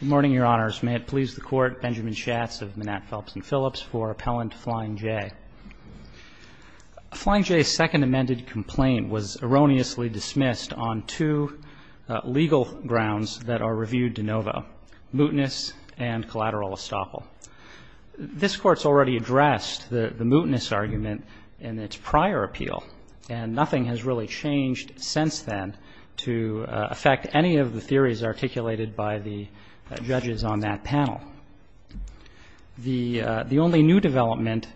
Good morning, Your Honors. May it please the Court, Benjamin Schatz of Manette, Phelps, and Phillips, for Appellant Flying J. Flying J's second amended complaint was erroneously dismissed on two legal grounds that are reviewed de novo, mootness and collateral estoppel. This Court's already addressed the mootness argument in its prior appeal, and nothing has really changed since then to affect any of the theories articulated by the judges on that panel. The only new development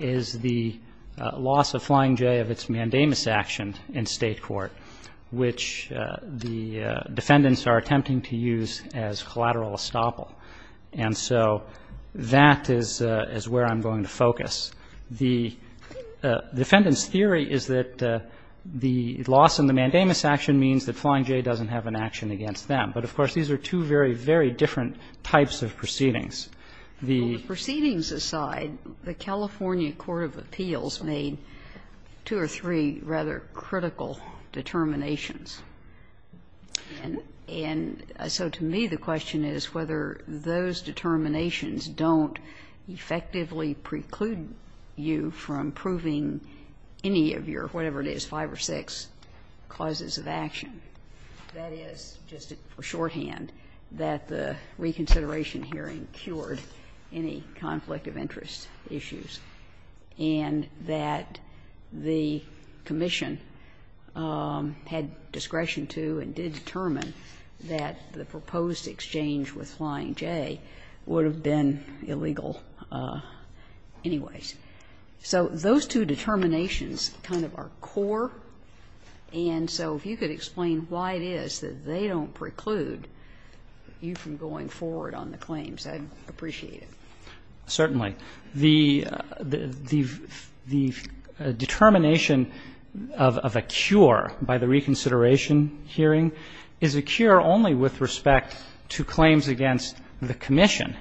is the loss of Flying J of its mandamus action in state court, which the defendants are attempting to use as collateral estoppel. And so that is where I'm going to focus. The defendant's theory is that the loss in the mandamus action means that Flying J doesn't have an action against them. But, of course, these are two very, very different types of proceedings. The ---- Ginsburg The proceedings aside, the California court of appeals made two or three rather critical determinations. And so to me the question is whether those determinations don't effectively preclude you from proving any of your, whatever it is, five or six causes of action. That is, just for shorthand, that the reconsideration hearing cured any conflict of interest issues, and that the commission had discretion to and did determine that the proposed exchange with Flying J would have been illegal anyways. So those two determinations kind of are core, and so if you could explain why it is that they don't preclude you from going forward on the claims, I'd appreciate it. Certainly. The determination of a cure by the reconsideration hearing is a cure only with respect to claims against the commission.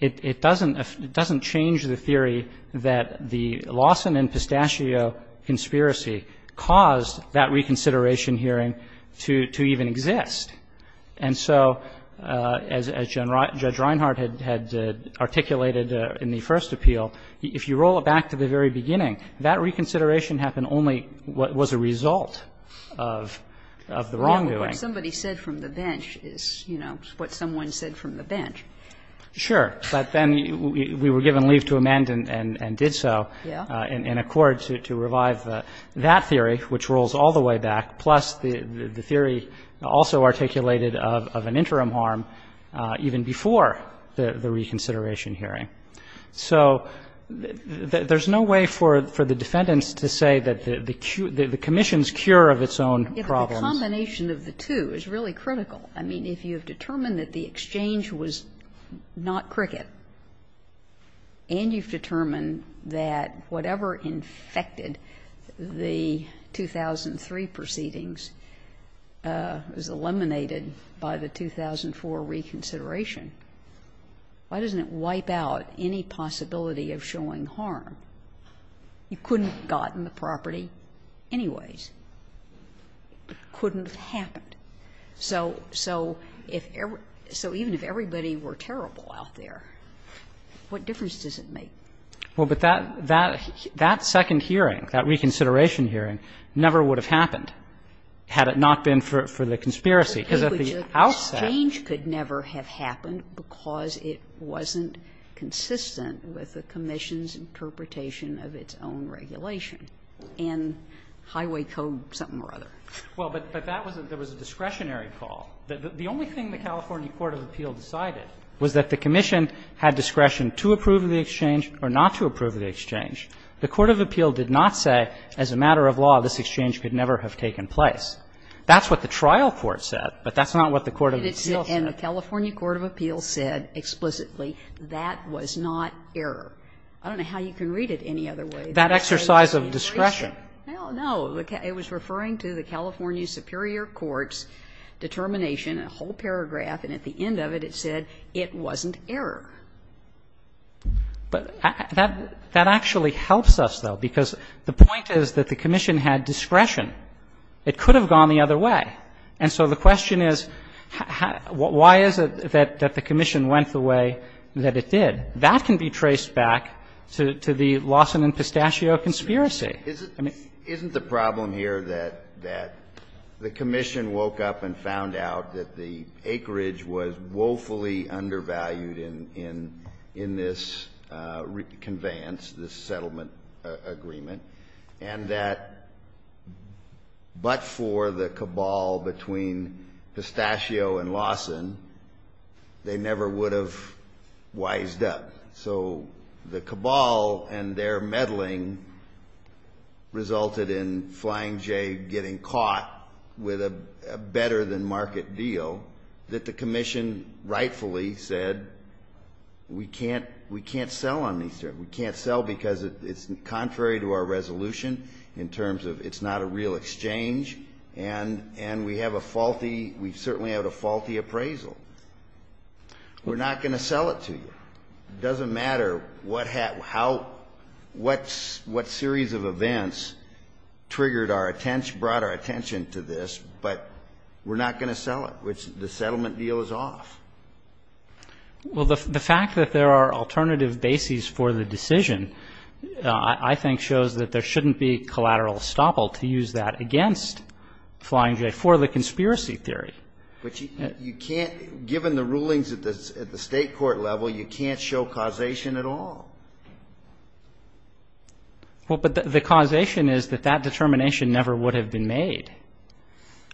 It doesn't change the theory that the Lawson and Pistachio conspiracy caused that reconsideration hearing to even exist. And so as Judge Reinhardt had articulated in the first appeal, if you roll it back to the very beginning, that reconsideration happened only what was a result of the wrongdoing. What somebody said from the bench is, you know, what someone said from the bench. Sure. But then we were given leave to amend and did so in accord to revive that theory, which rolls all the way back, plus the theory also articulated of an interim harm even before the reconsideration hearing. So there's no way for the defendants to say that the commission's cure of its own problems. But the combination of the two is really critical. I mean, if you have determined that the exchange was not cricket and you've determined that whatever infected the 2003 proceedings was eliminated by the 2004 reconsideration, why doesn't it wipe out any possibility of showing harm? You couldn't have gotten the property anyways. It couldn't have happened. So even if everybody were terrible out there, what difference does it make? Well, but that second hearing, that reconsideration hearing, never would have happened had it not been for the conspiracy, because at the outset. Exchange could never have happened because it wasn't consistent with the commission's interpretation of its own regulation in Highway Code something or other. Well, but that was a discretionary call. The only thing the California court of appeal decided was that the commission had discretion to approve the exchange or not to approve the exchange. The court of appeal did not say as a matter of law this exchange could never have taken place. That's what the trial court said, but that's not what the court of appeal said. And the California court of appeal said explicitly that was not error. I don't know how you can read it any other way. That exercise of discretion. Well, no. It was referring to the California superior court's determination, a whole paragraph, and at the end of it, it said it wasn't error. But that actually helps us, though, because the point is that the commission had discretion. It could have gone the other way. And so the question is, why is it that the commission went the way that it did? That can be traced back to the Lawson and Pistachio conspiracy. Isn't the problem here that the commission woke up and found out that the acreage was woefully undervalued in this conveyance, this settlement agreement, and that but for the cabal between Pistachio and Lawson, they never would have wised up? So the cabal and their meddling resulted in Flying J getting caught with a better-than-market deal that the commission rightfully said we can't sell on these terms. We can't sell because it's contrary to our resolution in terms of it's not a real exchange, and we have a faulty we certainly have a faulty appraisal. We're not going to sell it to you. It doesn't matter what series of events triggered our attention, brought our attention to this, but we're not going to sell it, which the settlement deal is off. Well, the fact that there are alternative bases for the decision, I think, shows that there shouldn't be collateral estoppel to use that against Flying J for the conspiracy theory. But you can't, given the rulings at the state court level, you can't show causation at all. Well, but the causation is that that determination never would have been made.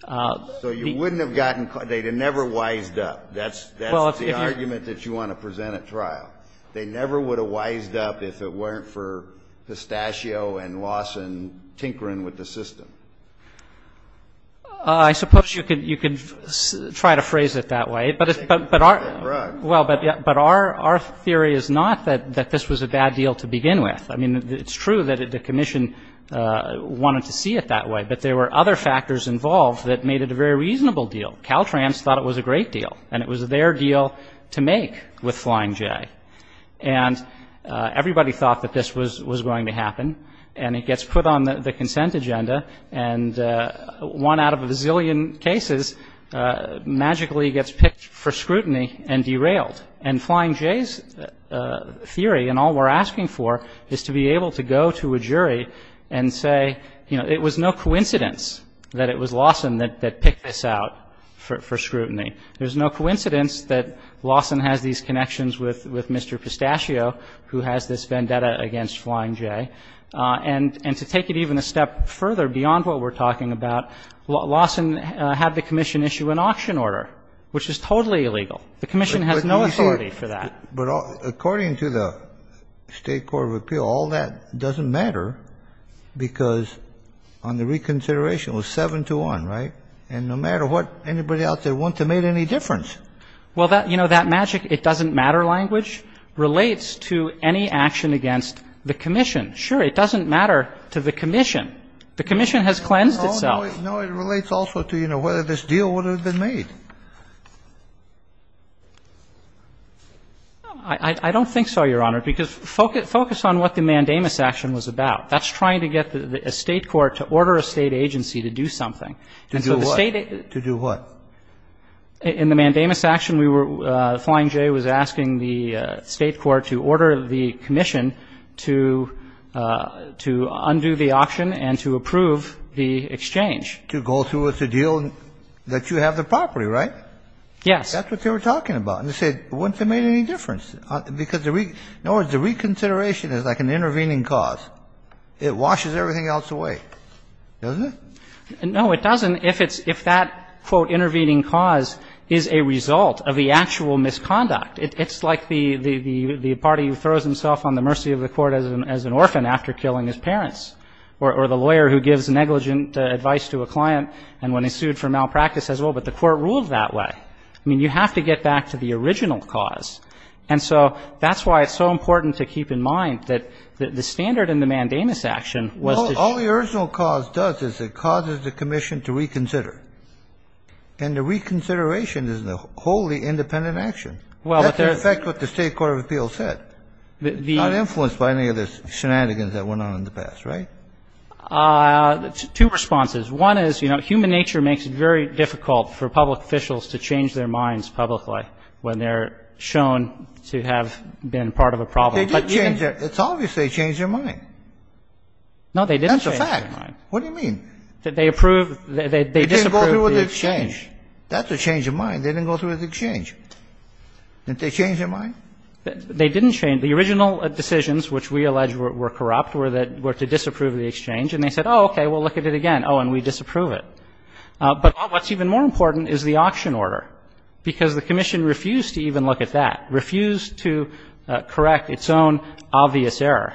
So you wouldn't have gotten, they'd have never wised up. That's the argument that you want to present at trial. They never would have wised up if it weren't for Pistachio and Lawson tinkering with the system. I suppose you could try to phrase it that way. But our theory is not that this was a bad deal to begin with. I mean, it's true that the commission wanted to see it that way, but there were other factors involved that made it a very reasonable deal. Caltrans thought it was a great deal, and it was their deal to make with Flying J. And everybody thought that this was going to happen, and it gets put on the consent agenda, and one out of a zillion cases magically gets picked for scrutiny and derailed. And Flying J's theory, and all we're asking for, is to be able to go to a jury and say, you know, it was no coincidence that it was Lawson that picked this out for scrutiny. There's no coincidence that Lawson has these connections with Mr. Pistachio, who has this vendetta against Flying J. And to take it even a step further, beyond what we're talking about, Lawson had the commission issue an auction order, which is totally illegal. The commission has no authority for that. But according to the State Court of Appeal, all that doesn't matter, because on the reconsideration it was 7-1, right? And no matter what, anybody out there wouldn't have made any difference. Well, you know, that magic it doesn't matter language relates to any action against the commission. Sure, it doesn't matter to the commission. The commission has cleansed itself. No, it relates also to, you know, whether this deal would have been made. I don't think so, Your Honor, because focus on what the mandamus action was about. That's trying to get a State court to order a State agency to do something. To do what? To do what? In the mandamus action, we were ‑‑ Flying J was asking the State court to order the commission to undo the auction and to approve the exchange. To go through with the deal that you have the property, right? Yes. That's what they were talking about. And they said it wouldn't have made any difference, because the ‑‑ in other words, the reconsideration is like an intervening cause. It washes everything else away, doesn't it? No, it doesn't, if it's ‑‑ if that, quote, intervening cause is a result of the actual misconduct. It's like the party who throws himself on the mercy of the court as an orphan after killing his parents, or the lawyer who gives negligent advice to a client and when he's sued for malpractice says, well, but the court ruled that way. I mean, you have to get back to the original cause. And so that's why it's so important to keep in mind that the standard in the mandamus action was to ‑‑ All the original cause does is it causes the commission to reconsider. And the reconsideration is a wholly independent action. Well, but there's ‑‑ That's in effect what the State Court of Appeals said. The ‑‑ Not influenced by any of the shenanigans that went on in the past, right? Two responses. One is, you know, human nature makes it very difficult for public officials to change their minds publicly when they're shown to have been part of a problem. But even ‑‑ They did change their ‑‑ it's obvious they changed their mind. No, they didn't change their mind. That's a fact. What do you mean? They approved ‑‑ they disapproved the exchange. They didn't go through with the exchange. That's a change of mind. They didn't go through with the exchange. Didn't they change their mind? They didn't change. The original decisions, which we allege were corrupt, were to disapprove the exchange. And they said, oh, okay, we'll look at it again. Oh, and we disapprove it. But what's even more important is the auction order, because the commission refused to even look at that, refused to correct its own obvious error.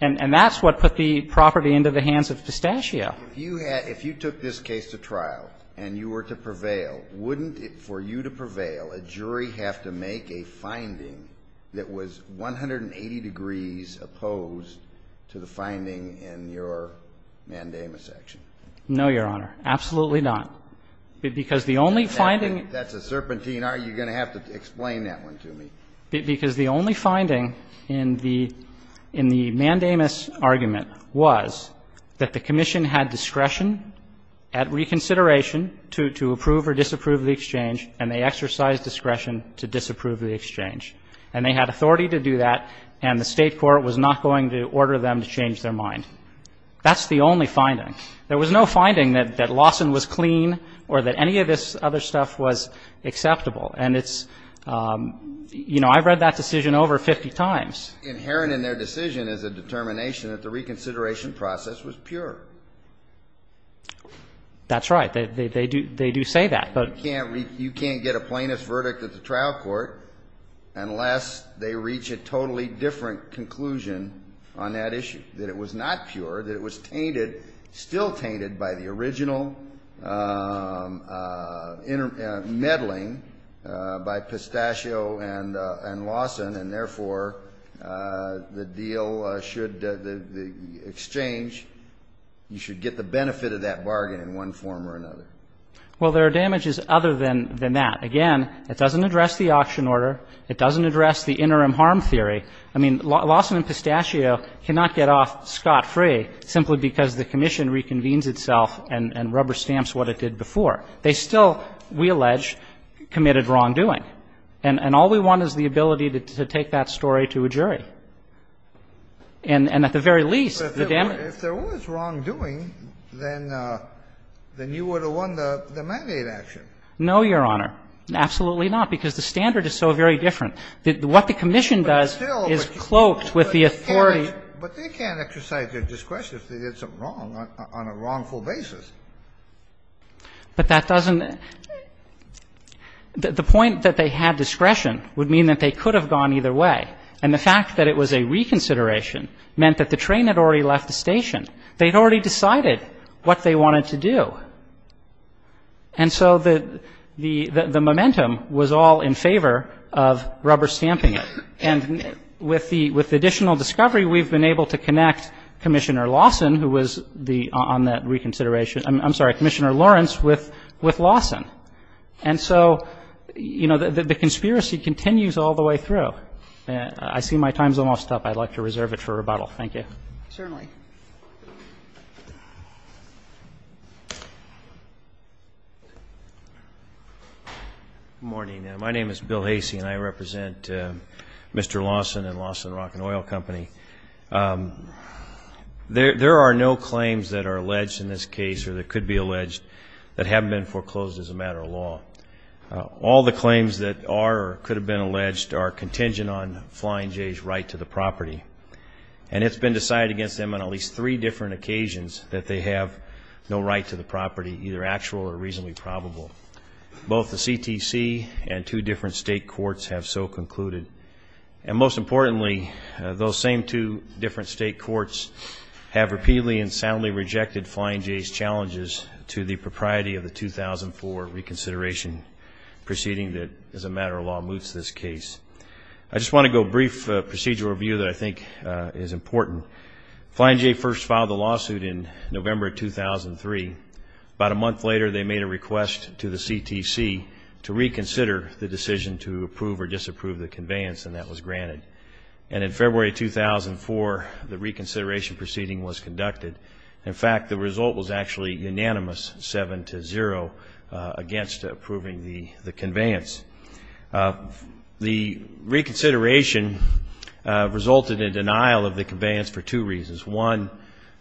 And that's what put the property into the hands of Pistachio. If you had ‑‑ if you took this case to trial and you were to prevail, wouldn't it, for you to prevail, a jury have to make a finding that was 180 degrees opposed to the finding in your mandamus action? No, Your Honor. Absolutely not. Because the only finding ‑‑ That's a serpentine. Are you going to have to explain that one to me? Because the only finding in the mandamus argument was that the commission had discretion at reconsideration to approve or disapprove the exchange, and they exercised discretion to disapprove the exchange. And they had authority to do that, and the State court was not going to order them to change their mind. That's the only finding. There was no finding that Lawson was clean or that any of this other stuff was acceptable. And it's ‑‑ you know, I've read that decision over 50 times. Inherent in their decision is a determination that the reconsideration process was pure. That's right. They do say that, but ‑‑ You can't get a plaintiff's verdict at the trial court unless they reach a totally different conclusion on that issue, that it was not pure, that it was tainted, still tainted by the original meddling by Pistachio and Lawson, and, therefore, the deal should ‑‑ the exchange, you should get the benefit of that bargain in one form or another. Well, there are damages other than that. Again, it doesn't address the auction order. It doesn't address the interim harm theory. I mean, Lawson and Pistachio cannot get off scot‑free simply because the commission reconvenes itself and rubber stamps what it did before. They still, we allege, committed wrongdoing. And all we want is the ability to take that story to a jury. And at the very least, the damage ‑‑ But if there was wrongdoing, then you would have won the mandate action. No, Your Honor. Absolutely not, because the standard is so very different. What the commission does is cloaked with the authority ‑‑ But they can't exercise their discretion if they did something wrong on a wrongful basis. But that doesn't ‑‑ the point that they had discretion would mean that they could have gone either way. And the fact that it was a reconsideration meant that the train had already left the station. They had already decided what they wanted to do. And so the momentum was all in favor of rubber stamping it. And with the additional discovery, we've been able to connect Commissioner Lawson, who was on that reconsideration ‑‑ I'm sorry, Commissioner Lawrence with Lawson. And so, you know, the conspiracy continues all the way through. I see my time's almost up. I'd like to reserve it for rebuttal. Thank you. Certainly. Good morning. My name is Bill Hasey, and I represent Mr. Lawson and Lawson Rock & Oil Company. There are no claims that are alleged in this case or that could be alleged that haven't been foreclosed as a matter of law. All the claims that are or could have been alleged are contingent on Flying J's right to the property. And it's been decided against them on at least three different occasions that they have no right to the property, either actual or reasonably probable. Both the CTC and two different state courts have so concluded. And most importantly, those same two different state courts have repeatedly and soundly rejected Flying J's challenges to the propriety of the 2004 reconsideration proceeding that as a matter of law moots this case. I just want to go brief procedural review that I think is important. Flying J first filed the lawsuit in November 2003. About a month later, they made a request to the CTC to reconsider the decision to approve or disapprove the conveyance, and that was granted. And in February 2004, the reconsideration proceeding was conducted. In fact, the result was actually unanimous, seven to zero, against approving the conveyance. The reconsideration resulted in denial of the conveyance for two reasons. One,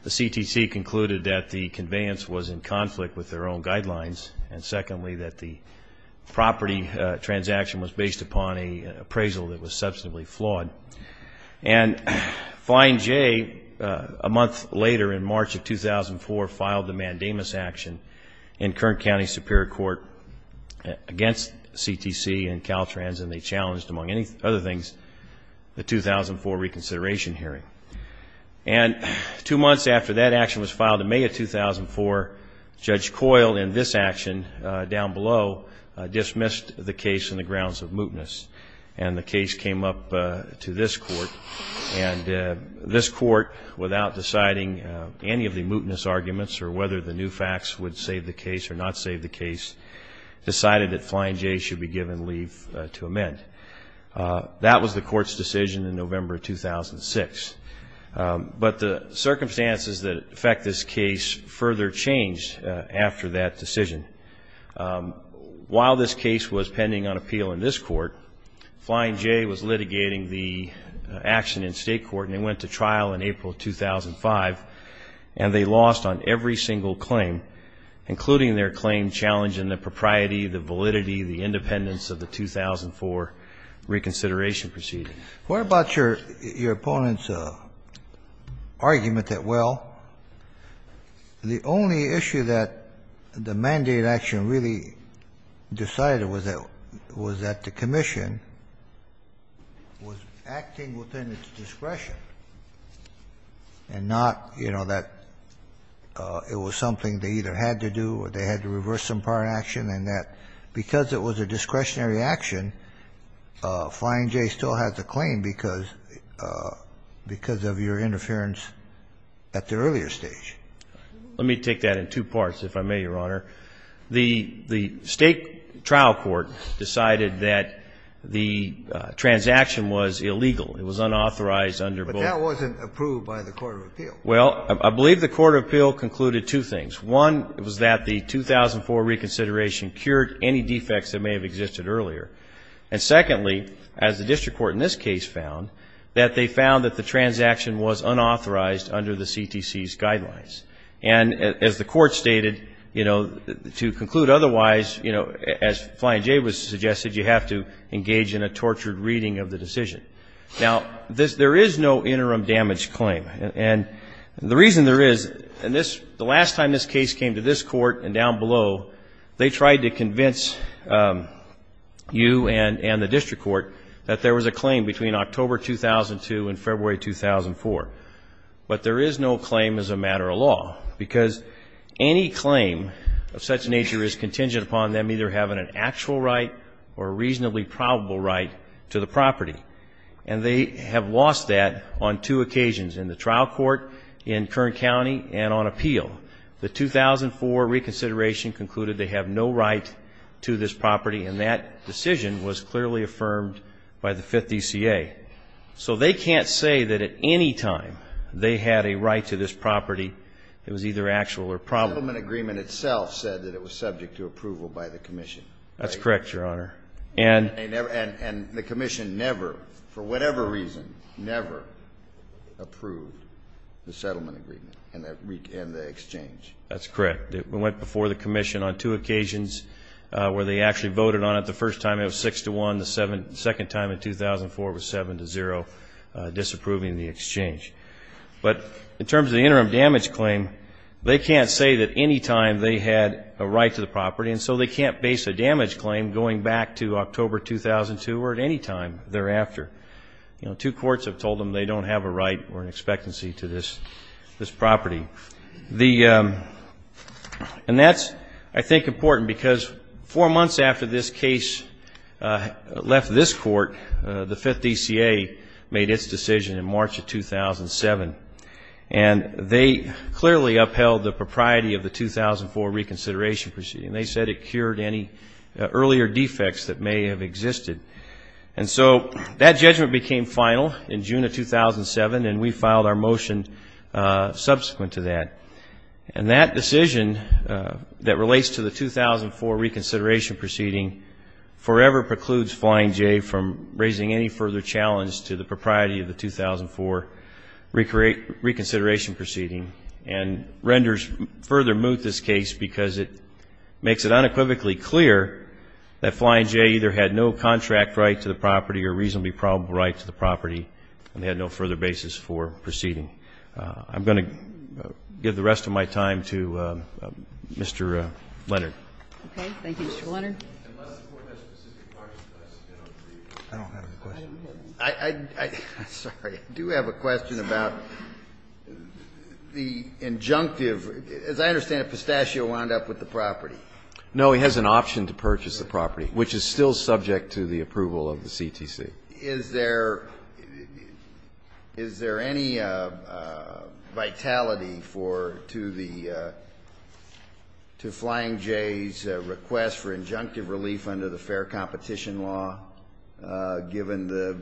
the CTC concluded that the conveyance was in conflict with their own guidelines. And secondly, that the property transaction was based upon an appraisal that was substantively flawed. And Flying J, a month later in March of 2004, filed a mandamus action in Kern County Superior Court against CTC and Caltrans, and they challenged, among other things, the 2004 reconsideration hearing. And two months after that action was filed in May of 2004, Judge Coyle in this action down below dismissed the case on the grounds of mootness, and the case came up to this court. And this court, without deciding any of the mootness arguments or whether the new facts would save the case or not save the case, decided that Flying J should be given leave to amend. That was the court's decision in November of 2006. But the circumstances that affect this case further changed after that decision. While this case was pending on appeal in this court, Flying J was litigating the action in state court, and they went to trial in April of 2005, and they lost on every single claim, including their claim challenging the propriety, the validity, the independence of the 2004 reconsideration proceeding. What about your opponent's argument that, well, the only issue that the mandate action really decided was that the commission was acting within its discretion and not, you know, that it was something they either had to do or they had to reverse some prior action, and that because it was a discretionary action, Flying J still has a claim because of your interference at the earlier stage? Let me take that in two parts, if I may, Your Honor. The state trial court decided that the transaction was illegal. It was unauthorized under both. But that wasn't approved by the court of appeal. Well, I believe the court of appeal concluded two things. One was that the 2004 reconsideration cured any defects that may have existed earlier. And secondly, as the district court in this case found, that they found that the transaction was unauthorized under the CTC's guidelines. And as the court stated, you know, to conclude otherwise, you know, as Flying J was suggesting, you have to engage in a tortured reading of the decision. Now, there is no interim damage claim. And the reason there is, and the last time this case came to this court and down below, they tried to convince you and the district court that there was a claim between October 2002 and February 2004. But there is no claim as a matter of law, because any claim of such nature is contingent upon them either having an actual right or a reasonably probable right to the property. And they have lost that on two occasions, in the trial court, in Kern County, and on appeal. The 2004 reconsideration concluded they have no right to this property, and that decision was clearly affirmed by the Fifth DCA. So they can't say that at any time they had a right to this property that was either actual or probable. The settlement agreement itself said that it was subject to approval by the commission. That's correct, Your Honor. And the commission never, for whatever reason, never approved the settlement agreement and the exchange. That's correct. It went before the commission on two occasions where they actually voted on it. The first time it was 6 to 1. The second time in 2004 was 7 to 0, disapproving the exchange. But in terms of the interim damage claim, they can't say that any time they had a right to the property, and so they can't base a damage claim going back to October 2002 or at any time thereafter. You know, two courts have told them they don't have a right or an expectancy to this property. And that's, I think, important because four months after this case left this court, the Fifth DCA made its decision in March of 2007, and they clearly upheld the propriety of the 2004 reconsideration proceeding. And they said it cured any earlier defects that may have existed. And so that judgment became final in June of 2007, and we filed our motion subsequent to that. And that decision that relates to the 2004 reconsideration proceeding forever precludes Flying J from raising any further challenge to the propriety of the 2004 reconsideration proceeding and renders further moot this case because it makes it unequivocally clear that Flying J either had no contract right to the property or reasonably probable right to the property and had no further basis for proceeding. I'm going to give the rest of my time to Mr. Leonard. Okay. Thank you, Mr. Leonard. Unless the Court has specific questions, then I'll leave. I don't have any questions. I'm sorry. I do have a question about the injunctive. As I understand it, Pistachio wound up with the property. No. He has an option to purchase the property, which is still subject to the approval of the CTC. Is there any vitality to the Flying J's request for injunctive relief under the fair competition law given the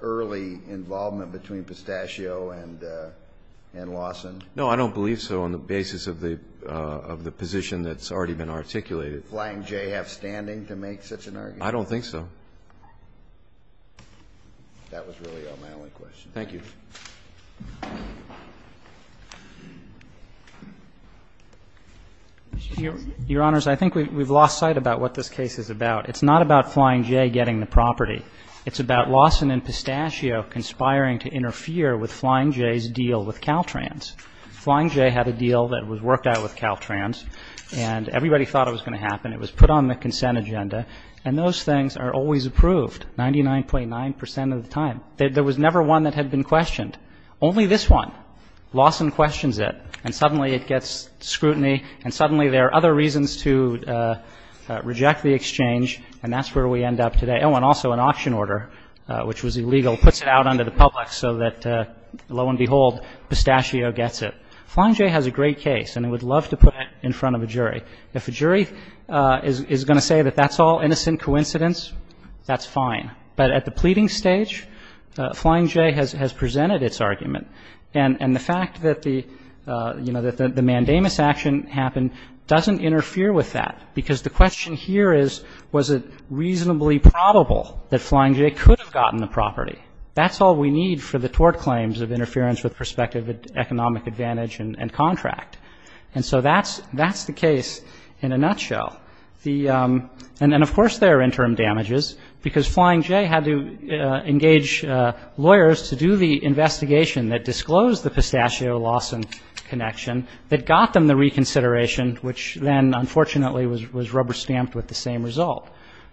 early involvement between Pistachio and Lawson? No, I don't believe so on the basis of the position that's already been articulated. Does Flying J have standing to make such an argument? I don't think so. That was really my only question. Thank you. Your Honors, I think we've lost sight about what this case is about. It's not about Flying J getting the property. It's about Lawson and Pistachio conspiring to interfere with Flying J's deal with Caltrans. Flying J had a deal that was worked out with Caltrans, and everybody thought it was going to happen. It was put on the consent agenda, and those things are always approved, 99.9 percent of the time. There was never one that had been questioned. Only this one. Lawson questions it, and suddenly it gets scrutiny, and suddenly there are other reasons to reject the exchange, and that's where we end up today. Oh, and also an auction order, which was illegal, puts it out onto the public so that, lo and behold, Pistachio gets it. Flying J has a great case, and I would love to put it in front of a jury. If a jury is going to say that that's all innocent coincidence, that's fine. But at the pleading stage, Flying J has presented its argument. And the fact that the, you know, that the mandamus action happened doesn't interfere with that, because the question here is, was it reasonably probable that Flying J could have gotten the property? That's all we need for the tort claims of interference with prospective economic advantage and contract. And so that's the case in a nutshell. And then, of course, there are interim damages, because Flying J had to engage lawyers to do the investigation that disclosed the Pistachio-Lawson connection that got them the reconsideration, which then, unfortunately, was rubber-stamped with the same result.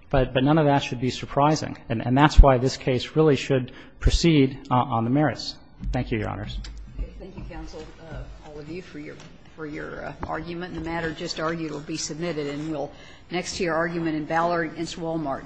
But none of that should be surprising. And that's why this case really should proceed on the merits. Thank you, Your Honors. Okay. Thank you, counsel, all of you, for your argument. And the matter just argued will be submitted. And we'll next hear argument in Ballard v. Wal-Mart.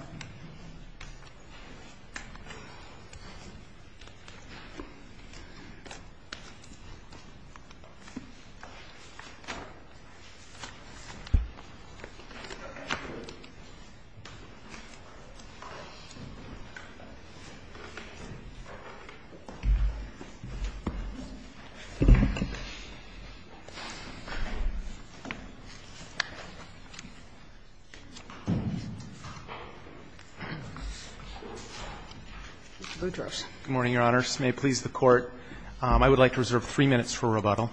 Good morning, Your Honors. May it please the Court. I would like to reserve three minutes for rebuttal.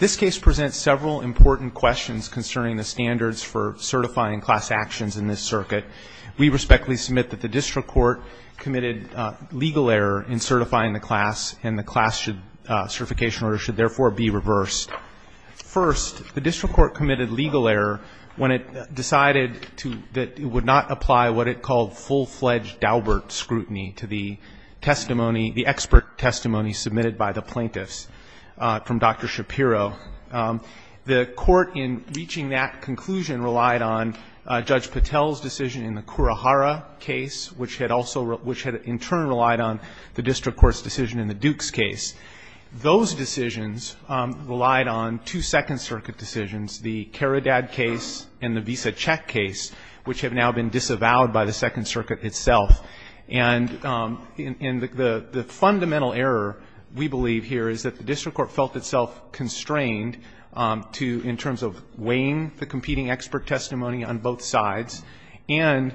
This case presents several important questions concerning the standards for certifying class actions in this circuit. We respectfully submit that the district court committed legal error in certifying the class, and the class certification order should therefore be reversed. First, the district court committed legal error when it decided that it would not apply what it called full-fledged Daubert scrutiny to the testimony, the expert testimony submitted by the plaintiffs from Dr. Shapiro. The court, in reaching that conclusion, relied on Judge Patel's decision in the Kurohara case, which had also, which had in turn relied on the district court's decision in the Dukes case. Those decisions relied on two Second Circuit decisions, the Kharadad case and the Visa Check case, which have now been disavowed by the Second Circuit itself. And the fundamental error, we believe here, is that the district court felt itself constrained to, in terms of weighing the competing expert testimony on both sides and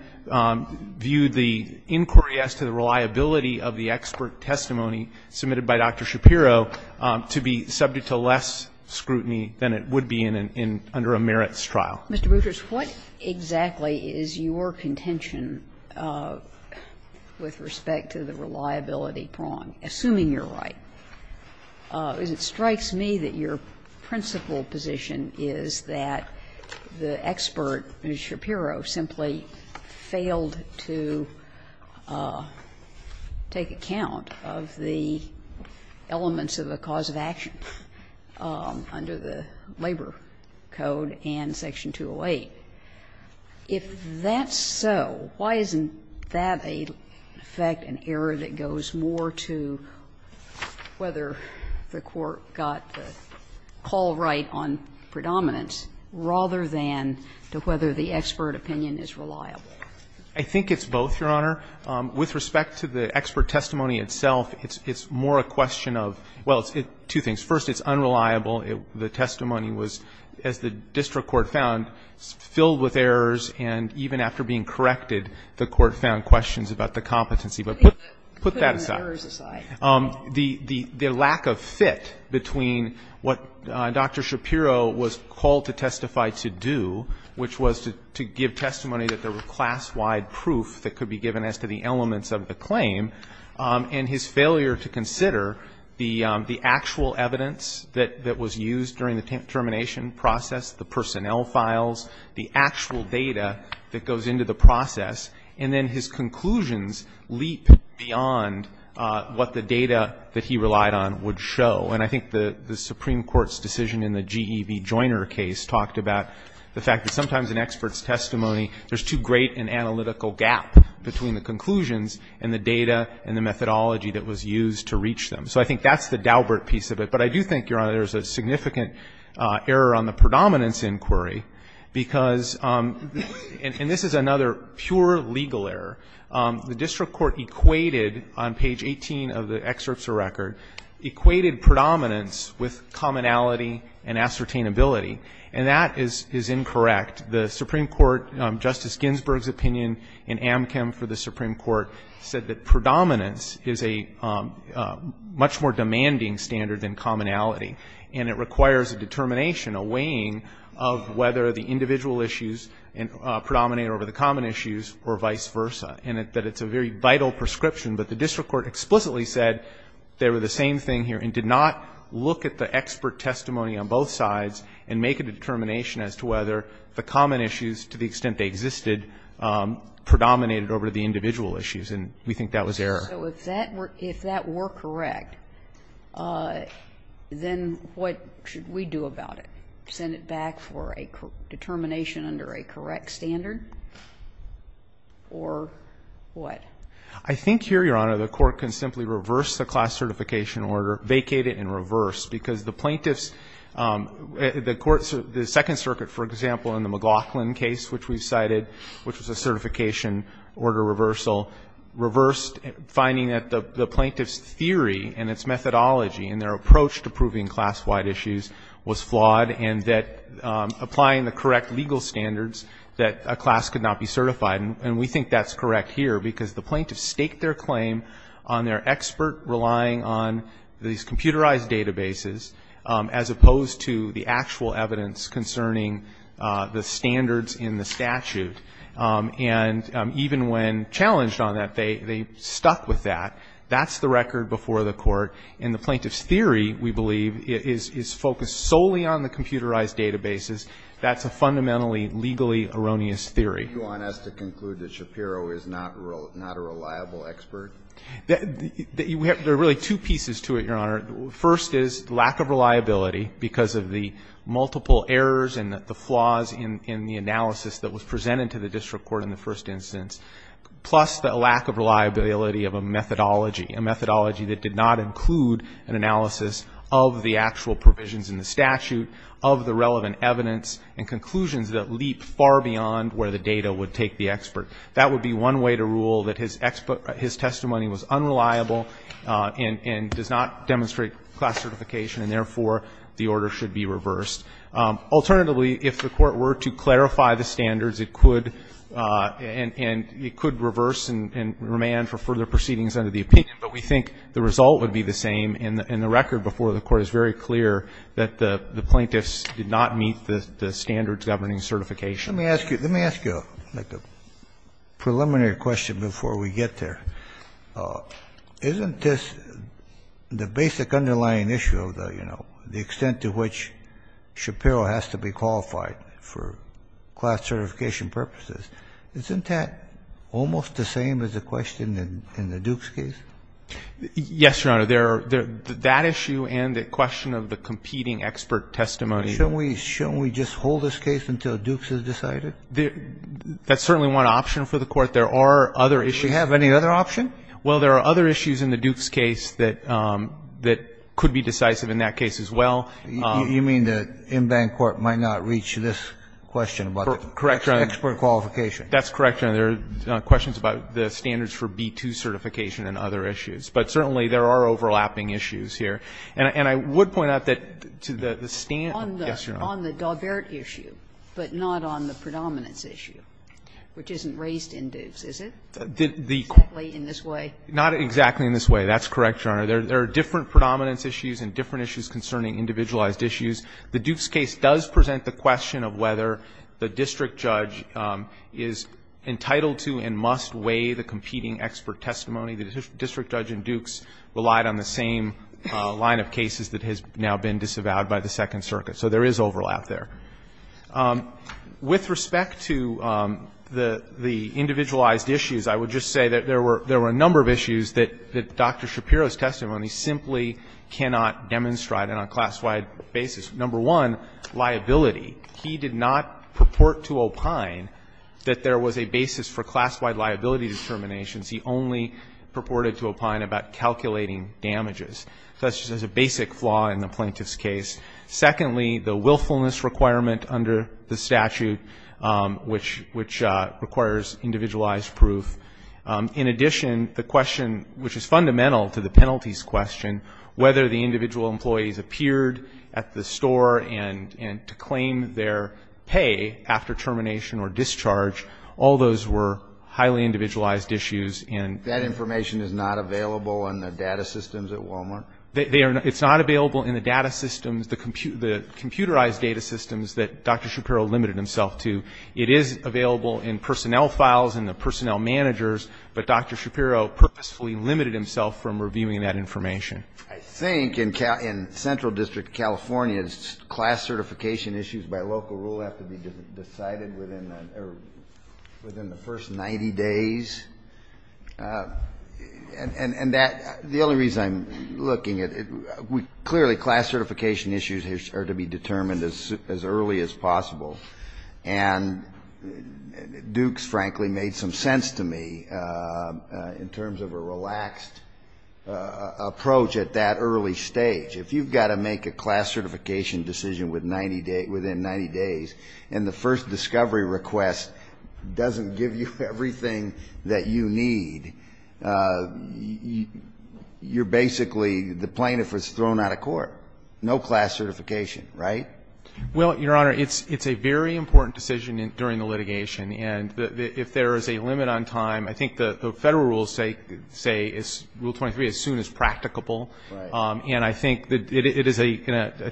viewed the inquiry as to the reliability of the expert testimony submitted by Dr. Shapiro to be subject to less scrutiny than it would be in an under-merits trial. Kagan. Mr. Boutrous, what exactly is your contention with respect to the reliability prong, assuming you're right? Because it strikes me that your principal position is that the expert, Shapiro, simply failed to take account of the elements of the cause of action under the Labor Code and Section 208. If that's so, why isn't that, in effect, an error that goes more to whether the court got the call right on predominance rather than to whether the expert opinion is reliable? I think it's both, Your Honor. With respect to the expert testimony itself, it's more a question of, well, two things. First, it's unreliable. The testimony was, as the district court found, filled with errors, and even after being corrected, the court found questions about the competency. But put that aside. Putting the errors aside. The lack of fit between what Dr. Shapiro was called to testify to do, which was to give testimony that there were class-wide proof that could be given as to the elements of the claim, and his failure to consider the actual evidence that was used during the termination process, the personnel files, the actual data that goes into the process, and then his conclusions leap beyond what the data that he relied on would show. And I think the Supreme Court's decision in the GEV Joiner case talked about the fact that sometimes in experts' testimony, there's too great an analytical gap between the conclusions and the data and the methodology that was used to reach them. So I think that's the Daubert piece of it. But I do think, Your Honor, there's a significant error on the predominance inquiry because, and this is another pure legal error, the district court equated on page 18 of the excerpts of record, equated predominance with commonality and ascertainability. And that is incorrect. The Supreme Court, Justice Ginsburg's opinion in Amchem for the Supreme Court, said that predominance is a much more demanding standard than commonality, and it requires a determination, a weighing of whether the individual issues predominate over the common issues or vice versa, and that it's a very vital prescription. But the district court explicitly said they were the same thing here and did not look at the expert testimony on both sides and make a determination as to whether the common issues, to the extent they existed, predominated over the individual issues, and we think that was error. So if that were correct, then what should we do about it? Send it back for a determination under a correct standard? Or what? I think here, Your Honor, the Court can simply reverse the class certification order, vacate it and reverse, because the plaintiffs, the courts, the Second Circuit, for example, in the McLaughlin case, which we cited, which was a certification order reversal, reversed, finding that the plaintiff's theory and its methodology and their approach to proving class-wide issues was flawed and that applying the correct legal standards, that a class could not be certified. And we think that's correct here because the plaintiffs staked their claim on their expert relying on these computerized databases as opposed to the actual evidence concerning the standards in the statute. And even when challenged on that, they stuck with that. That's the record before the Court. And the plaintiff's theory, we believe, is focused solely on the computerized databases. That's a fundamentally legally erroneous theory. Do you want us to conclude that Shapiro is not a reliable expert? There are really two pieces to it, Your Honor. First is lack of reliability because of the multiple errors and the flaws in the analysis that was presented to the district court in the first instance, plus the lack of reliability of a methodology, a methodology that did not include an analysis of the actual provisions in the statute, of the relevant evidence and conclusions that leap far beyond where the data would take the expert. That would be one way to rule that his testimony was unreliable and does not demonstrate class certification, and therefore, the order should be reversed. Alternatively, if the Court were to clarify the standards, it could reverse and remand for further proceedings under the opinion. But we think the result would be the same. And the record before the Court is very clear that the plaintiffs did not meet the standards governing certification. Let me ask you a preliminary question before we get there. Isn't this the basic underlying issue of the, you know, the extent to which Shapiro has to be qualified for class certification purposes, isn't that almost the same as the question in the Dukes case? Yes, Your Honor. That issue and the question of the competing expert testimony. Shouldn't we just hold this case until Dukes is decided? That's certainly one option for the Court. There are other issues. Do we have any other option? Well, there are other issues in the Dukes case that could be decisive in that case as well. You mean the in-bank Court might not reach this question about the expert qualification? Correct, Your Honor. That's correct, Your Honor. There are questions about the standards for B-2 certification and other issues. But certainly there are overlapping issues here. And I would point out that to the standards. Yes, Your Honor. On the Daubert issue, but not on the predominance issue, which isn't raised in Dukes, is it? Not exactly in this way. Not exactly in this way. That's correct, Your Honor. There are different predominance issues and different issues concerning individualized issues. The Dukes case does present the question of whether the district judge is entitled to and must weigh the competing expert testimony. The district judge in Dukes relied on the same line of cases that has now been disavowed by the Second Circuit. So there is overlap there. With respect to the individualized issues, I would just say that there were a number of issues that Dr. Shapiro's testimony simply cannot demonstrate on a class-wide basis. Number one, liability. He did not purport to opine that there was a basis for class-wide liability determinations. He only purported to opine about calculating damages. So that's just a basic flaw in the plaintiff's case. Secondly, the willfulness requirement under the statute, which requires individualized proof. In addition, the question which is fundamental to the penalties question, whether the individual employees appeared at the store and to claim their pay after termination or discharge, all those were highly individualized issues. And that information is not available in the data systems at Walmart? They are not. It's not available in the data systems, the computerized data systems that Dr. Shapiro limited himself to. It is available in personnel files and the personnel managers, but Dr. Shapiro purposefully limited himself from reviewing that information. I think in central district California, class certification issues by local rule have to be decided within the first 90 days. And the only reason I'm looking at it, clearly class certification issues are to be determined as early as possible. And Duke's frankly made some sense to me in terms of a relaxed approach at that early stage. If you've got to make a class certification decision within 90 days and the first discovery request doesn't give you everything that you need, you're basically the plaintiff was thrown out of court. No class certification, right? Well, Your Honor, it's a very important decision during the litigation. And if there is a limit on time, I think the Federal rules say rule 23, as soon as practicable. Right. And I think it is a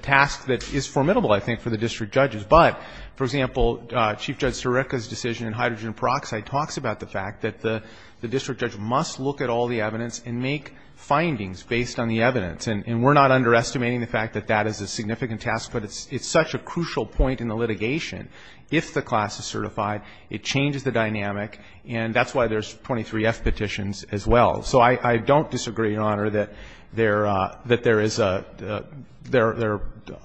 task that is formidable, I think, for the district judges. But, for example, Chief Judge Sirica's decision in hydrogen peroxide talks about the fact that the district judge must look at all the evidence and make findings based on the evidence. And we're not underestimating the fact that that is a significant task. But it's such a crucial point in the litigation. If the class is certified, it changes the dynamic. And that's why there's 23F petitions as well. So I don't disagree, Your Honor, that there is a – there are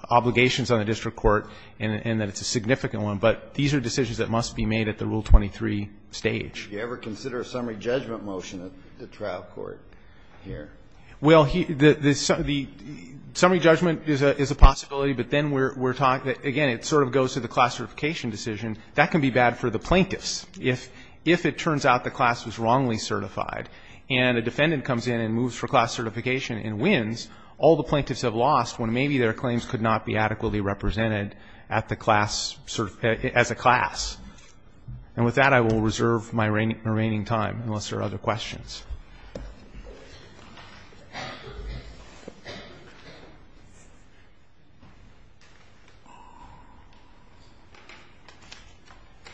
obligations on the district court and that it's a significant one. But these are decisions that must be made at the rule 23 stage. Do you ever consider a summary judgment motion at the trial court here? Well, the summary judgment is a possibility, but then we're talking – again, it sort of goes to the class certification decision. That can be bad for the plaintiffs if it turns out the class was wrongly certified. And a defendant comes in and moves for class certification and wins. All the plaintiffs have lost when maybe their claims could not be adequately represented at the class – as a class. And with that, I will reserve my remaining time unless there are other questions.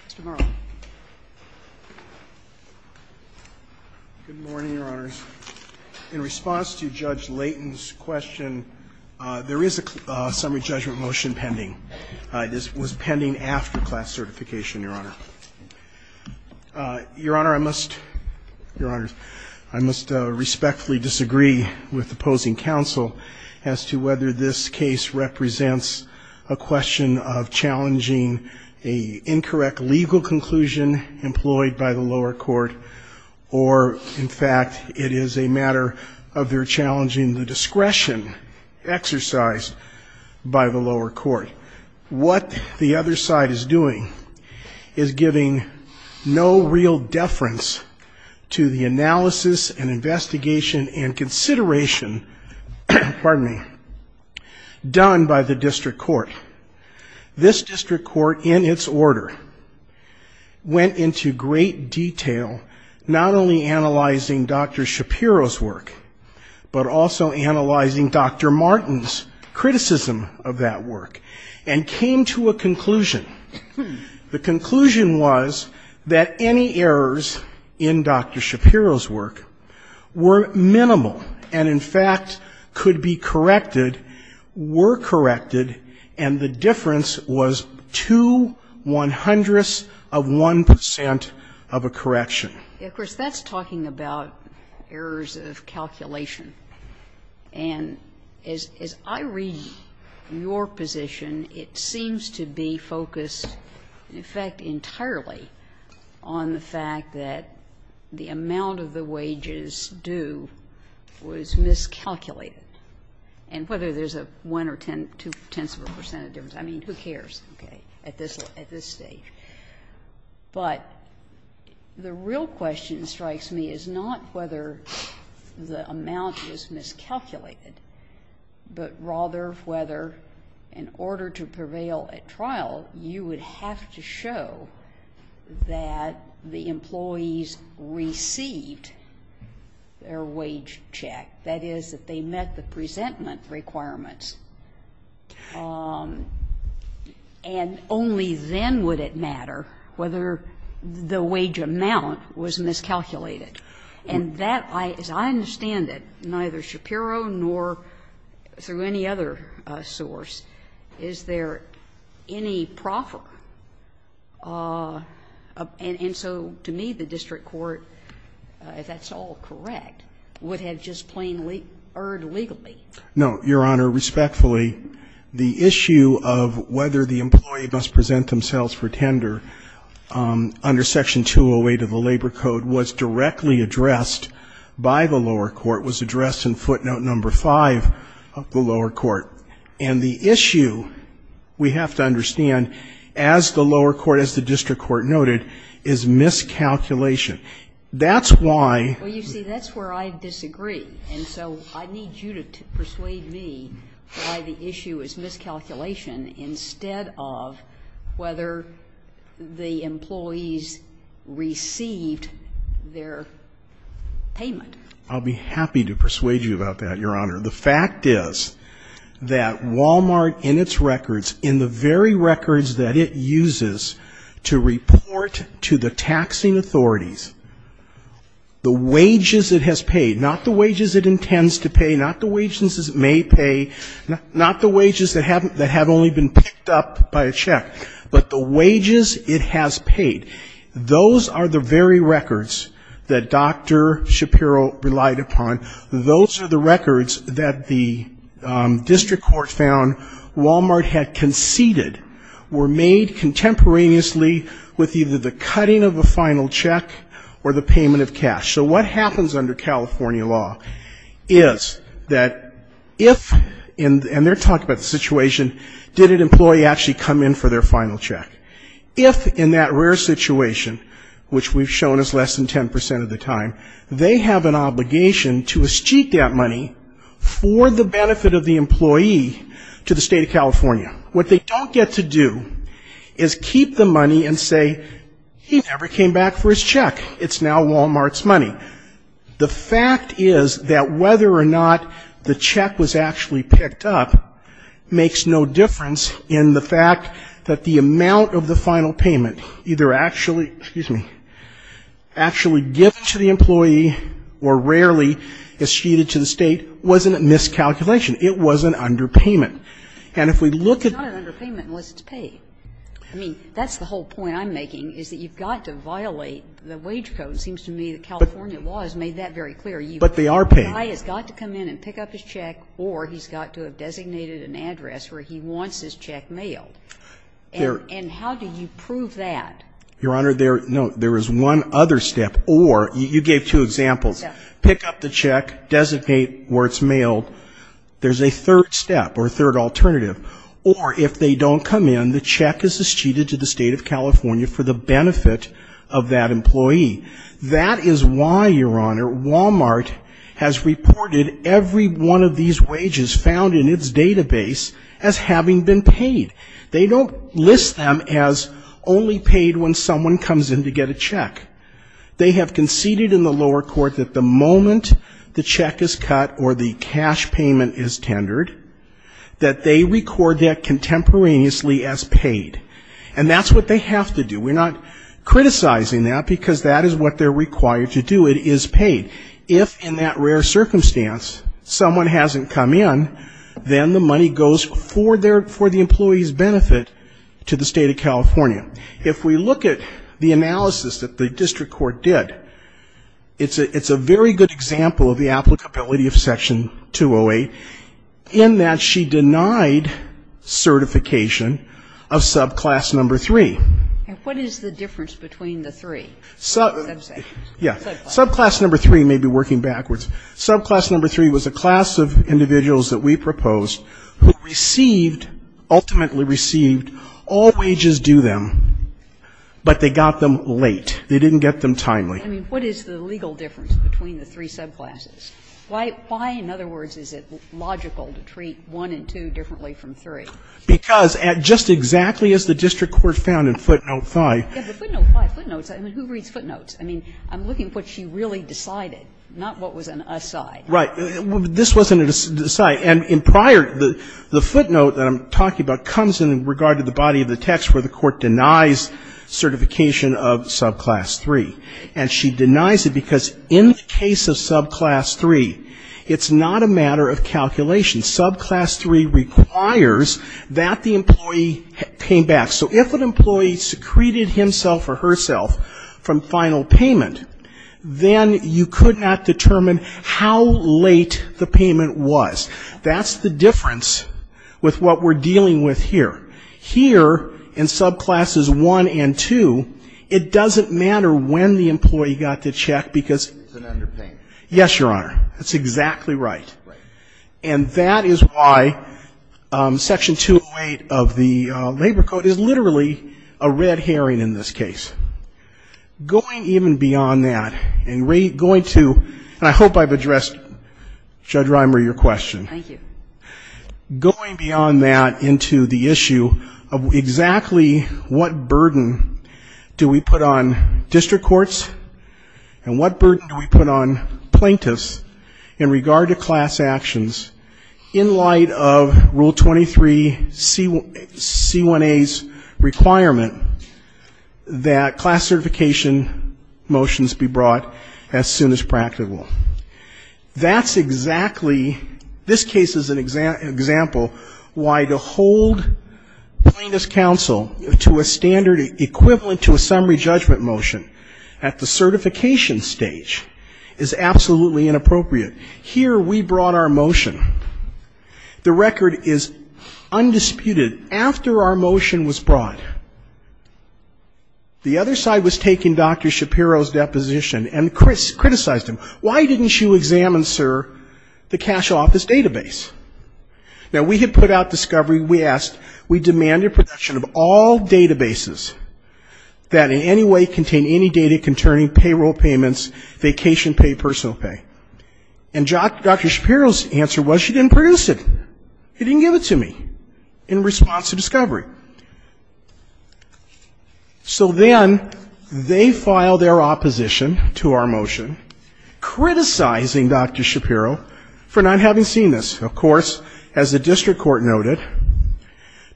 Mr. Morrow. Good morning, Your Honors. In response to Judge Layton's question, there is a summary judgment motion pending. This was pending after class certification, Your Honor. Your Honor, I must – Your Honors, I must respectfully disagree with opposing counsel as to whether this case represents a question of challenging an incorrect legal conclusion employed by the lower court or, in fact, it is a matter of their challenging the discretion exercised by the lower court. What the other side is doing is giving no real deference to the analysis and investigation and consideration – pardon me – done by the district court. This district court, in its order, went into great detail, not only analyzing Dr. Shapiro's work, but also analyzing Dr. Martin's criticism of that work. And came to a conclusion. The conclusion was that any errors in Dr. Shapiro's work were minimal and, in fact, could be corrected, were corrected, and the difference was two one-hundredths of 1 percent of a correction. Of course, that's talking about errors of calculation. And as I read your position, it seems to be focused, in effect, entirely on the fact that the amount of the wages due was miscalculated. And whether there's a one or two-tenths of a percent difference, I mean, who cares, okay, at this stage. But the real question that strikes me is not whether the amount of the wages due was miscalculated, but rather whether, in order to prevail at trial, you would have to show that the employees received their wage check. That is, that they met the presentment requirements. And only then would it matter whether the wage amount was miscalculated. And that, as I understand it, neither Shapiro nor through any other source, is there any proffer? And so to me, the district court, if that's all correct, would have just plainly erred legally. No, Your Honor. Respectfully, the issue of whether the employee must present themselves for tender under Section 208 of the Labor Code was directly addressed by the lower court, was addressed in footnote number 5 of the lower court. And the issue, we have to understand, as the lower court, as the district court noted, is miscalculation. That's why you see that's where I disagree. And so I need you to persuade me why the issue is miscalculation instead of whether the employees received their payment. I'll be happy to persuade you about that, Your Honor. The fact is that Walmart, in its records, in the very records that it uses to report to the taxing authorities, the wages it has paid, not the wages it intends to pay, not the wages it may pay, not the wages that have only been picked up by a check, but the wages it has paid, those are the very records that Dr. Shapiro relied upon. Those are the records that the district court found Walmart had conceded were made contemporaneously with either the cutting of a final check or the payment of cash. So what happens under California law is that if, and they're talking about the situation, did an employee actually come in for their final check, if in that rare situation, which we've shown is less than 10% of the time, they have an obligation to escheat that money for the benefit of the employee to the State of California. What they don't get to do is keep the money and say he never came back for his check. It's now Walmart's money. But the fact is that whether or not the check was actually picked up makes no difference in the fact that the amount of the final payment either actually, excuse me, actually given to the employee or rarely escheated to the State wasn't a miscalculation. It was an underpayment. And if we look at the---- It's not an underpayment unless it's paid. I mean, that's the whole point I'm making, is that you've got to violate the wage code, and it seems to me that California law has made that very clear. But they are paid. The guy has got to come in and pick up his check or he's got to have designated an address where he wants his check mailed. And how do you prove that? Your Honor, there is one other step. Or you gave two examples. Pick up the check, designate where it's mailed. There's a third step or a third alternative. That is why, Your Honor, Walmart has reported every one of these wages found in its database as having been paid. They don't list them as only paid when someone comes in to get a check. They have conceded in the lower court that the moment the check is cut or the cash payment is tendered, that they record that contemporaneously as paid. And that's what they have to do. We're not criticizing that, because that is what they're required to do. It is paid. If, in that rare circumstance, someone hasn't come in, then the money goes for the employee's benefit to the State of California. If we look at the analysis that the district court did, it's a very good example of the applicability of Section 208, in that she denied certification of subclass number 3. And what is the difference between the three? Yeah. Subclass number 3 may be working backwards. Subclass number 3 was a class of individuals that we proposed who received, ultimately received, all wages due them, but they got them late. They didn't get them timely. I mean, what is the legal difference between the three subclasses? Why, in other words, is it logical to treat 1 and 2 differently from 3? Because, just exactly as the district court found in footnote 5. Yeah, but footnote 5, footnotes, I mean, who reads footnotes? I mean, I'm looking at what she really decided, not what was an aside. Right. This wasn't an aside. And in prior, the footnote that I'm talking about comes in regard to the body of the text where the Court denies certification of subclass 3. And she denies it because in the case of subclass 3, it's not a matter of calculation. Subclass 3 requires that the employee pay back. So if an employee secreted himself or herself from final payment, then you could not determine how late the payment was. That's the difference with what we're dealing with here. Here, in subclasses 1 and 2, it doesn't matter when the employee got the check because. It's an underpayment. Yes, Your Honor. That's exactly right. Right. And that is why Section 208 of the Labor Code is literally a red herring in this case. Going even beyond that and going to, and I hope I've addressed, Judge Reimer, your question. Thank you. Going beyond that into the issue of exactly what burden do we put on district class actions in light of Rule 23C1A's requirement that class certification motions be brought as soon as practical? That's exactly, this case is an example why to hold plaintiff's counsel to a standard equivalent to a summary judgment motion at the certification stage is absolutely inappropriate. Here, we brought our motion. The record is undisputed. After our motion was brought, the other side was taking Dr. Shapiro's deposition and criticized him. Why didn't you examine, sir, the cash office database? Now, we had put out discovery, we asked, we demanded production of all databases that in any way contain any data concerning payroll payments, vacation pay, personal pay, and Dr. Shapiro's answer was she didn't produce it. He didn't give it to me in response to discovery. So then they filed their opposition to our motion, criticizing Dr. Shapiro for not having seen this. Of course, as the district court noted,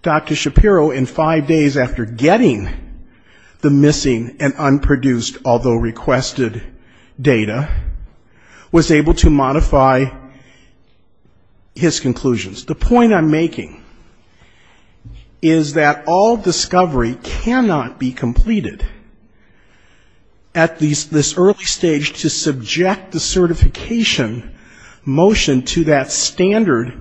Dr. Shapiro in five days after getting the motion was able to modify his conclusions. The point I'm making is that all discovery cannot be completed at this early stage to subject the certification motion to that standard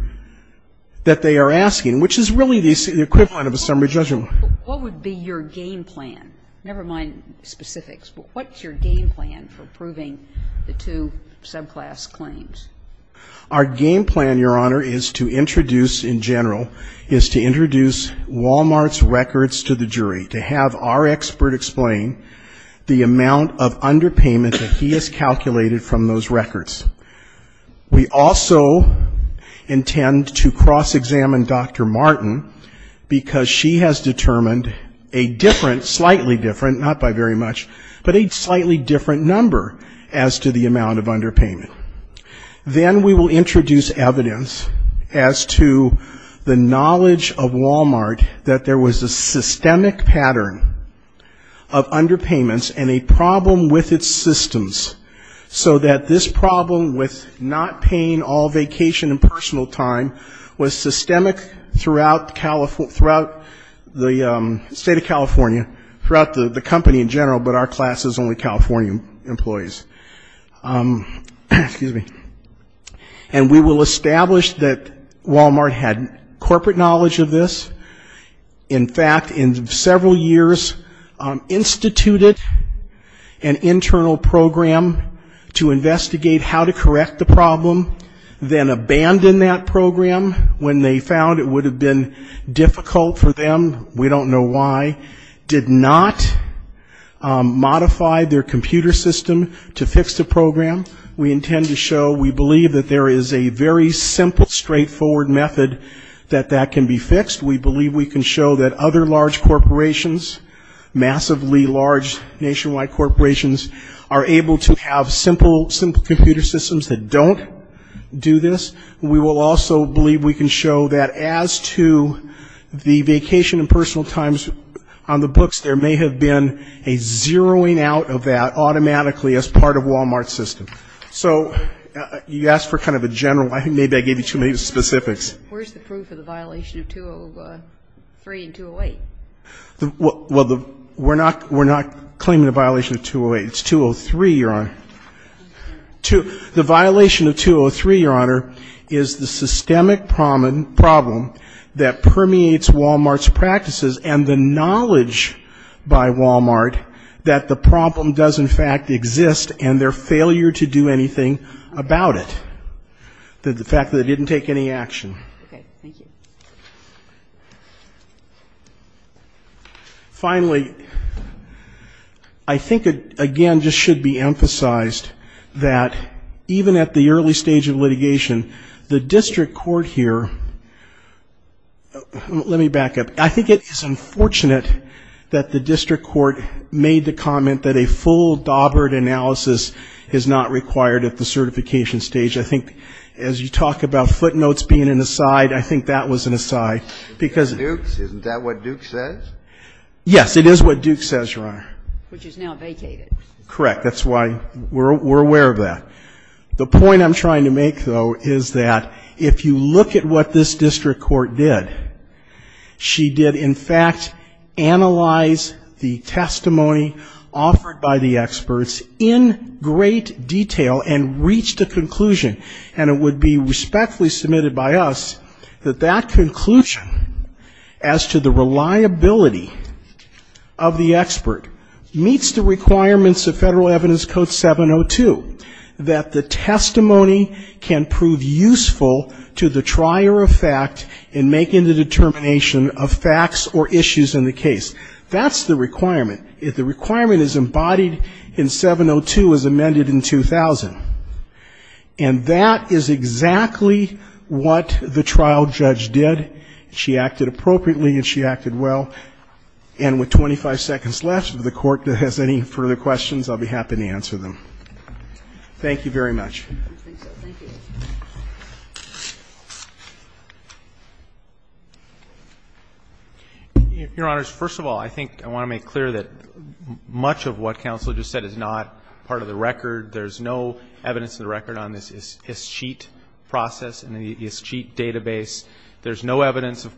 that they are asking, which is really the equivalent of a summary judgment. What would be your game plan, never mind specifics, but what's your game plan for approving the two subclass claims? Our game plan, Your Honor, is to introduce in general, is to introduce Walmart's records to the jury, to have our expert explain the amount of underpayment that he has calculated from those records. We also intend to cross-examine Dr. Martin, because she has determined a different, slightly different, not by very much, but a slightly different number as to the amount of underpayment. Then we will introduce evidence as to the knowledge of Walmart that there was a systemic pattern of not paying all vacation and personal time was systemic throughout the state of California, throughout the company in general, but our class is only California employees. And we will establish that Walmart had corporate knowledge of this. In fact, in several years, instituted an internal program to investigate how to get the problem, then abandoned that program when they found it would have been difficult for them, we don't know why, did not modify their computer system to fix the program. We intend to show, we believe that there is a very simple, straightforward method that that can be fixed. We believe we can show that other large corporations, massively large nationwide corporations, are able to have simple computer systems that don't do this. We will also believe we can show that as to the vacation and personal times on the books, there may have been a zeroing out of that automatically as part of Walmart's system. So you asked for kind of a general, I think maybe I gave you too many specifics. Where's the proof of the violation of 203 and 208? We're not claiming the violation of 208, it's 203, Your Honor. The violation of 203, Your Honor, is the systemic problem that permeates Walmart's practices and the knowledge by Walmart that the problem does in fact exist and their failure to do anything about it. The fact that they didn't take any action. Finally, I think again just should be emphasized that even at the early stage of litigation, the district court here, let me back up, I think it is unfortunate that the district court made the comment that a full daubered analysis is not required at the certification stage. I think as you talk about footnotes being an aside, I think that was an aside. Isn't that what Duke says? Yes, it is what Duke says, Your Honor. Which is now vacated. Correct, that's why we're aware of that. The point I'm trying to make, though, is that if you look at what this district court did, she did in fact analyze the testimony offered by the experts in great detail and reached a conclusion. And it would be respectfully submitted by us that that conclusion as to the reliability of the expert meets the requirements of Federal Evidence Code 702, that the testimony can prove useful to the trier of fact in making the determination of facts or issues in the case. That's the requirement. If the requirement is embodied in 702 as amended in 2000, and that is exactly what the trial judge did. She acted appropriately and she acted well. And with 25 seconds left, if the Court has any further questions, I'll be happy to answer them. Thank you very much. Your Honors, first of all, I think I want to make clear that much of what counsel just said is not part of the record. There's no evidence of the record on this ISCHEAT process and the ISCHEAT database. There's no evidence of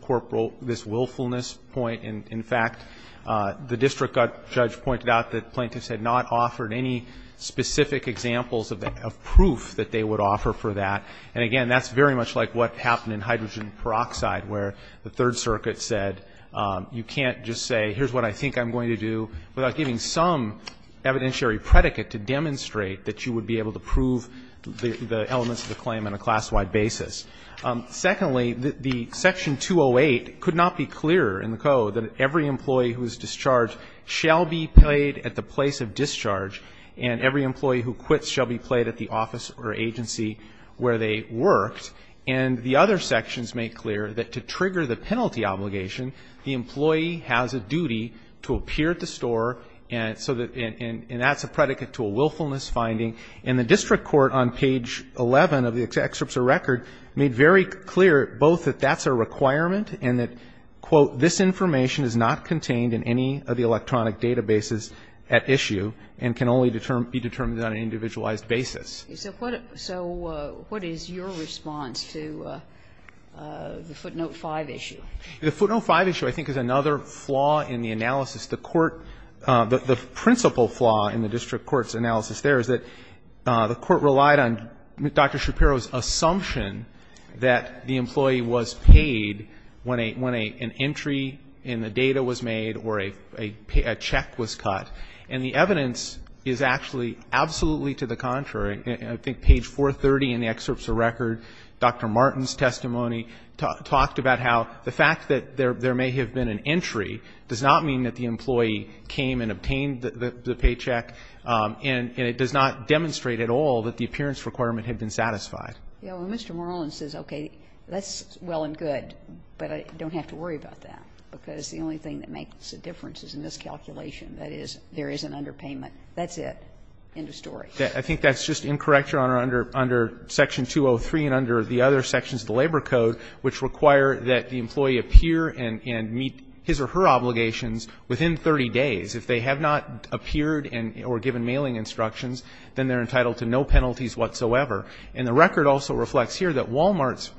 this willfulness point. In fact, the district judge pointed out that plaintiffs had not offered any specific examples of proof that they would offer for that. And again, that's very much like what happened in hydrogen peroxide, where the Third Circuit said, you can't just say, here's what I think I'm going to do, without giving some evidentiary predicate to demonstrate that you would be able to prove the elements of the claim on a class-wide basis. The Section 208 could not be clearer in the code that every employee who is discharged shall be paid at the place of discharge and every employee who quits shall be paid at the office or agency where they worked. And the other sections make clear that to trigger the penalty obligation, the employee has a duty to appear at the store and that's a predicate to a willfulness finding. And the district court on page 11 of the excerpts of record made very clear both that that's a requirement and that, quote, this information is not contained in any of the electronic databases at issue and can only be determined on an individualized basis. So what is your response to the footnote 5 issue? The footnote 5 issue, I think, is another flaw in the analysis. The court, the principal flaw in the district court's analysis there is that the court relied on Dr. Shapiro's assumption that the employee was paid when an entry in the data was made or a check was cut. And the evidence is actually absolutely to the contrary. I think page 430 in the excerpts of record, Dr. Martin's testimony, talked about how the fact that there may have been an entry does not mean that the employee came and obtained the paycheck, and it does not demonstrate at all that the appearance requirement had been satisfied. Yeah, well, Mr. Moreland says, okay, that's well and good, but I don't have to worry about that, because the only thing that makes a difference is in this calculation, that is, there is an underpayment. That's it. End of story. I think that's just incorrect, Your Honor, under section 203 and under the other sections of the labor code, which require that the employee appear and meet his or her obligations within 30 days. If they have not appeared or given mailing instructions, then they're entitled to no penalties whatsoever. And the record also reflects here that Walmart's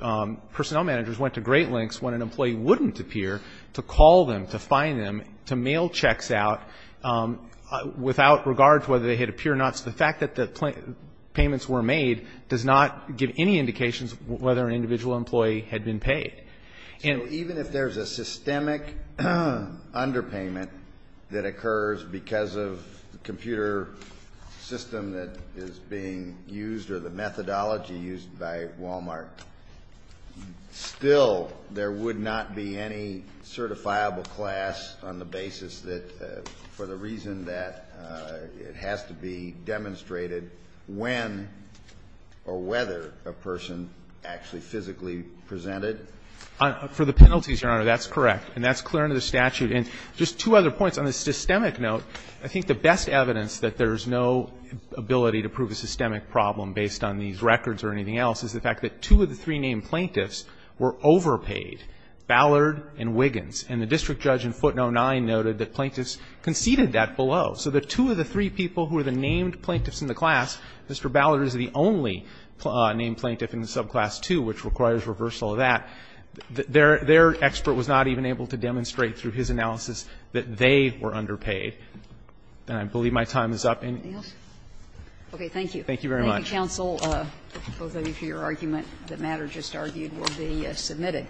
personnel managers went to great lengths when an employee wouldn't appear to call them, to find them, to mail checks out without regard to whether they had appeared or not. So the fact that the payments were made does not give any indications whether an individual employee had been paid. So even if there's a systemic underpayment that occurs because of the computer system that is being used or the methodology used by Walmart, still there would not be any certifiable class on the basis that for the reason that it has to be demonstrated when or whether a person actually physically presented. For the penalties, Your Honor, that's correct. And that's clear under the statute. And just two other points. On the systemic note, I think the best evidence that there's no ability to prove a systemic problem based on these records or anything else is the fact that two of the three-name plaintiffs were overpaid, Ballard and Wiggins. And the district judge in footnote 9 noted that plaintiffs conceded that below. So the two of the three people who are the named plaintiffs in the class, Mr. Ballard is the only named plaintiff in the subclass 2, which requires reversal of that. Their expert was not even able to demonstrate through his analysis that they were underpaid. And I believe my time is up. Anything else? Okay. Thank you. Thank you very much. Thank you, counsel, both of you, for your argument. The matter just argued will be submitted.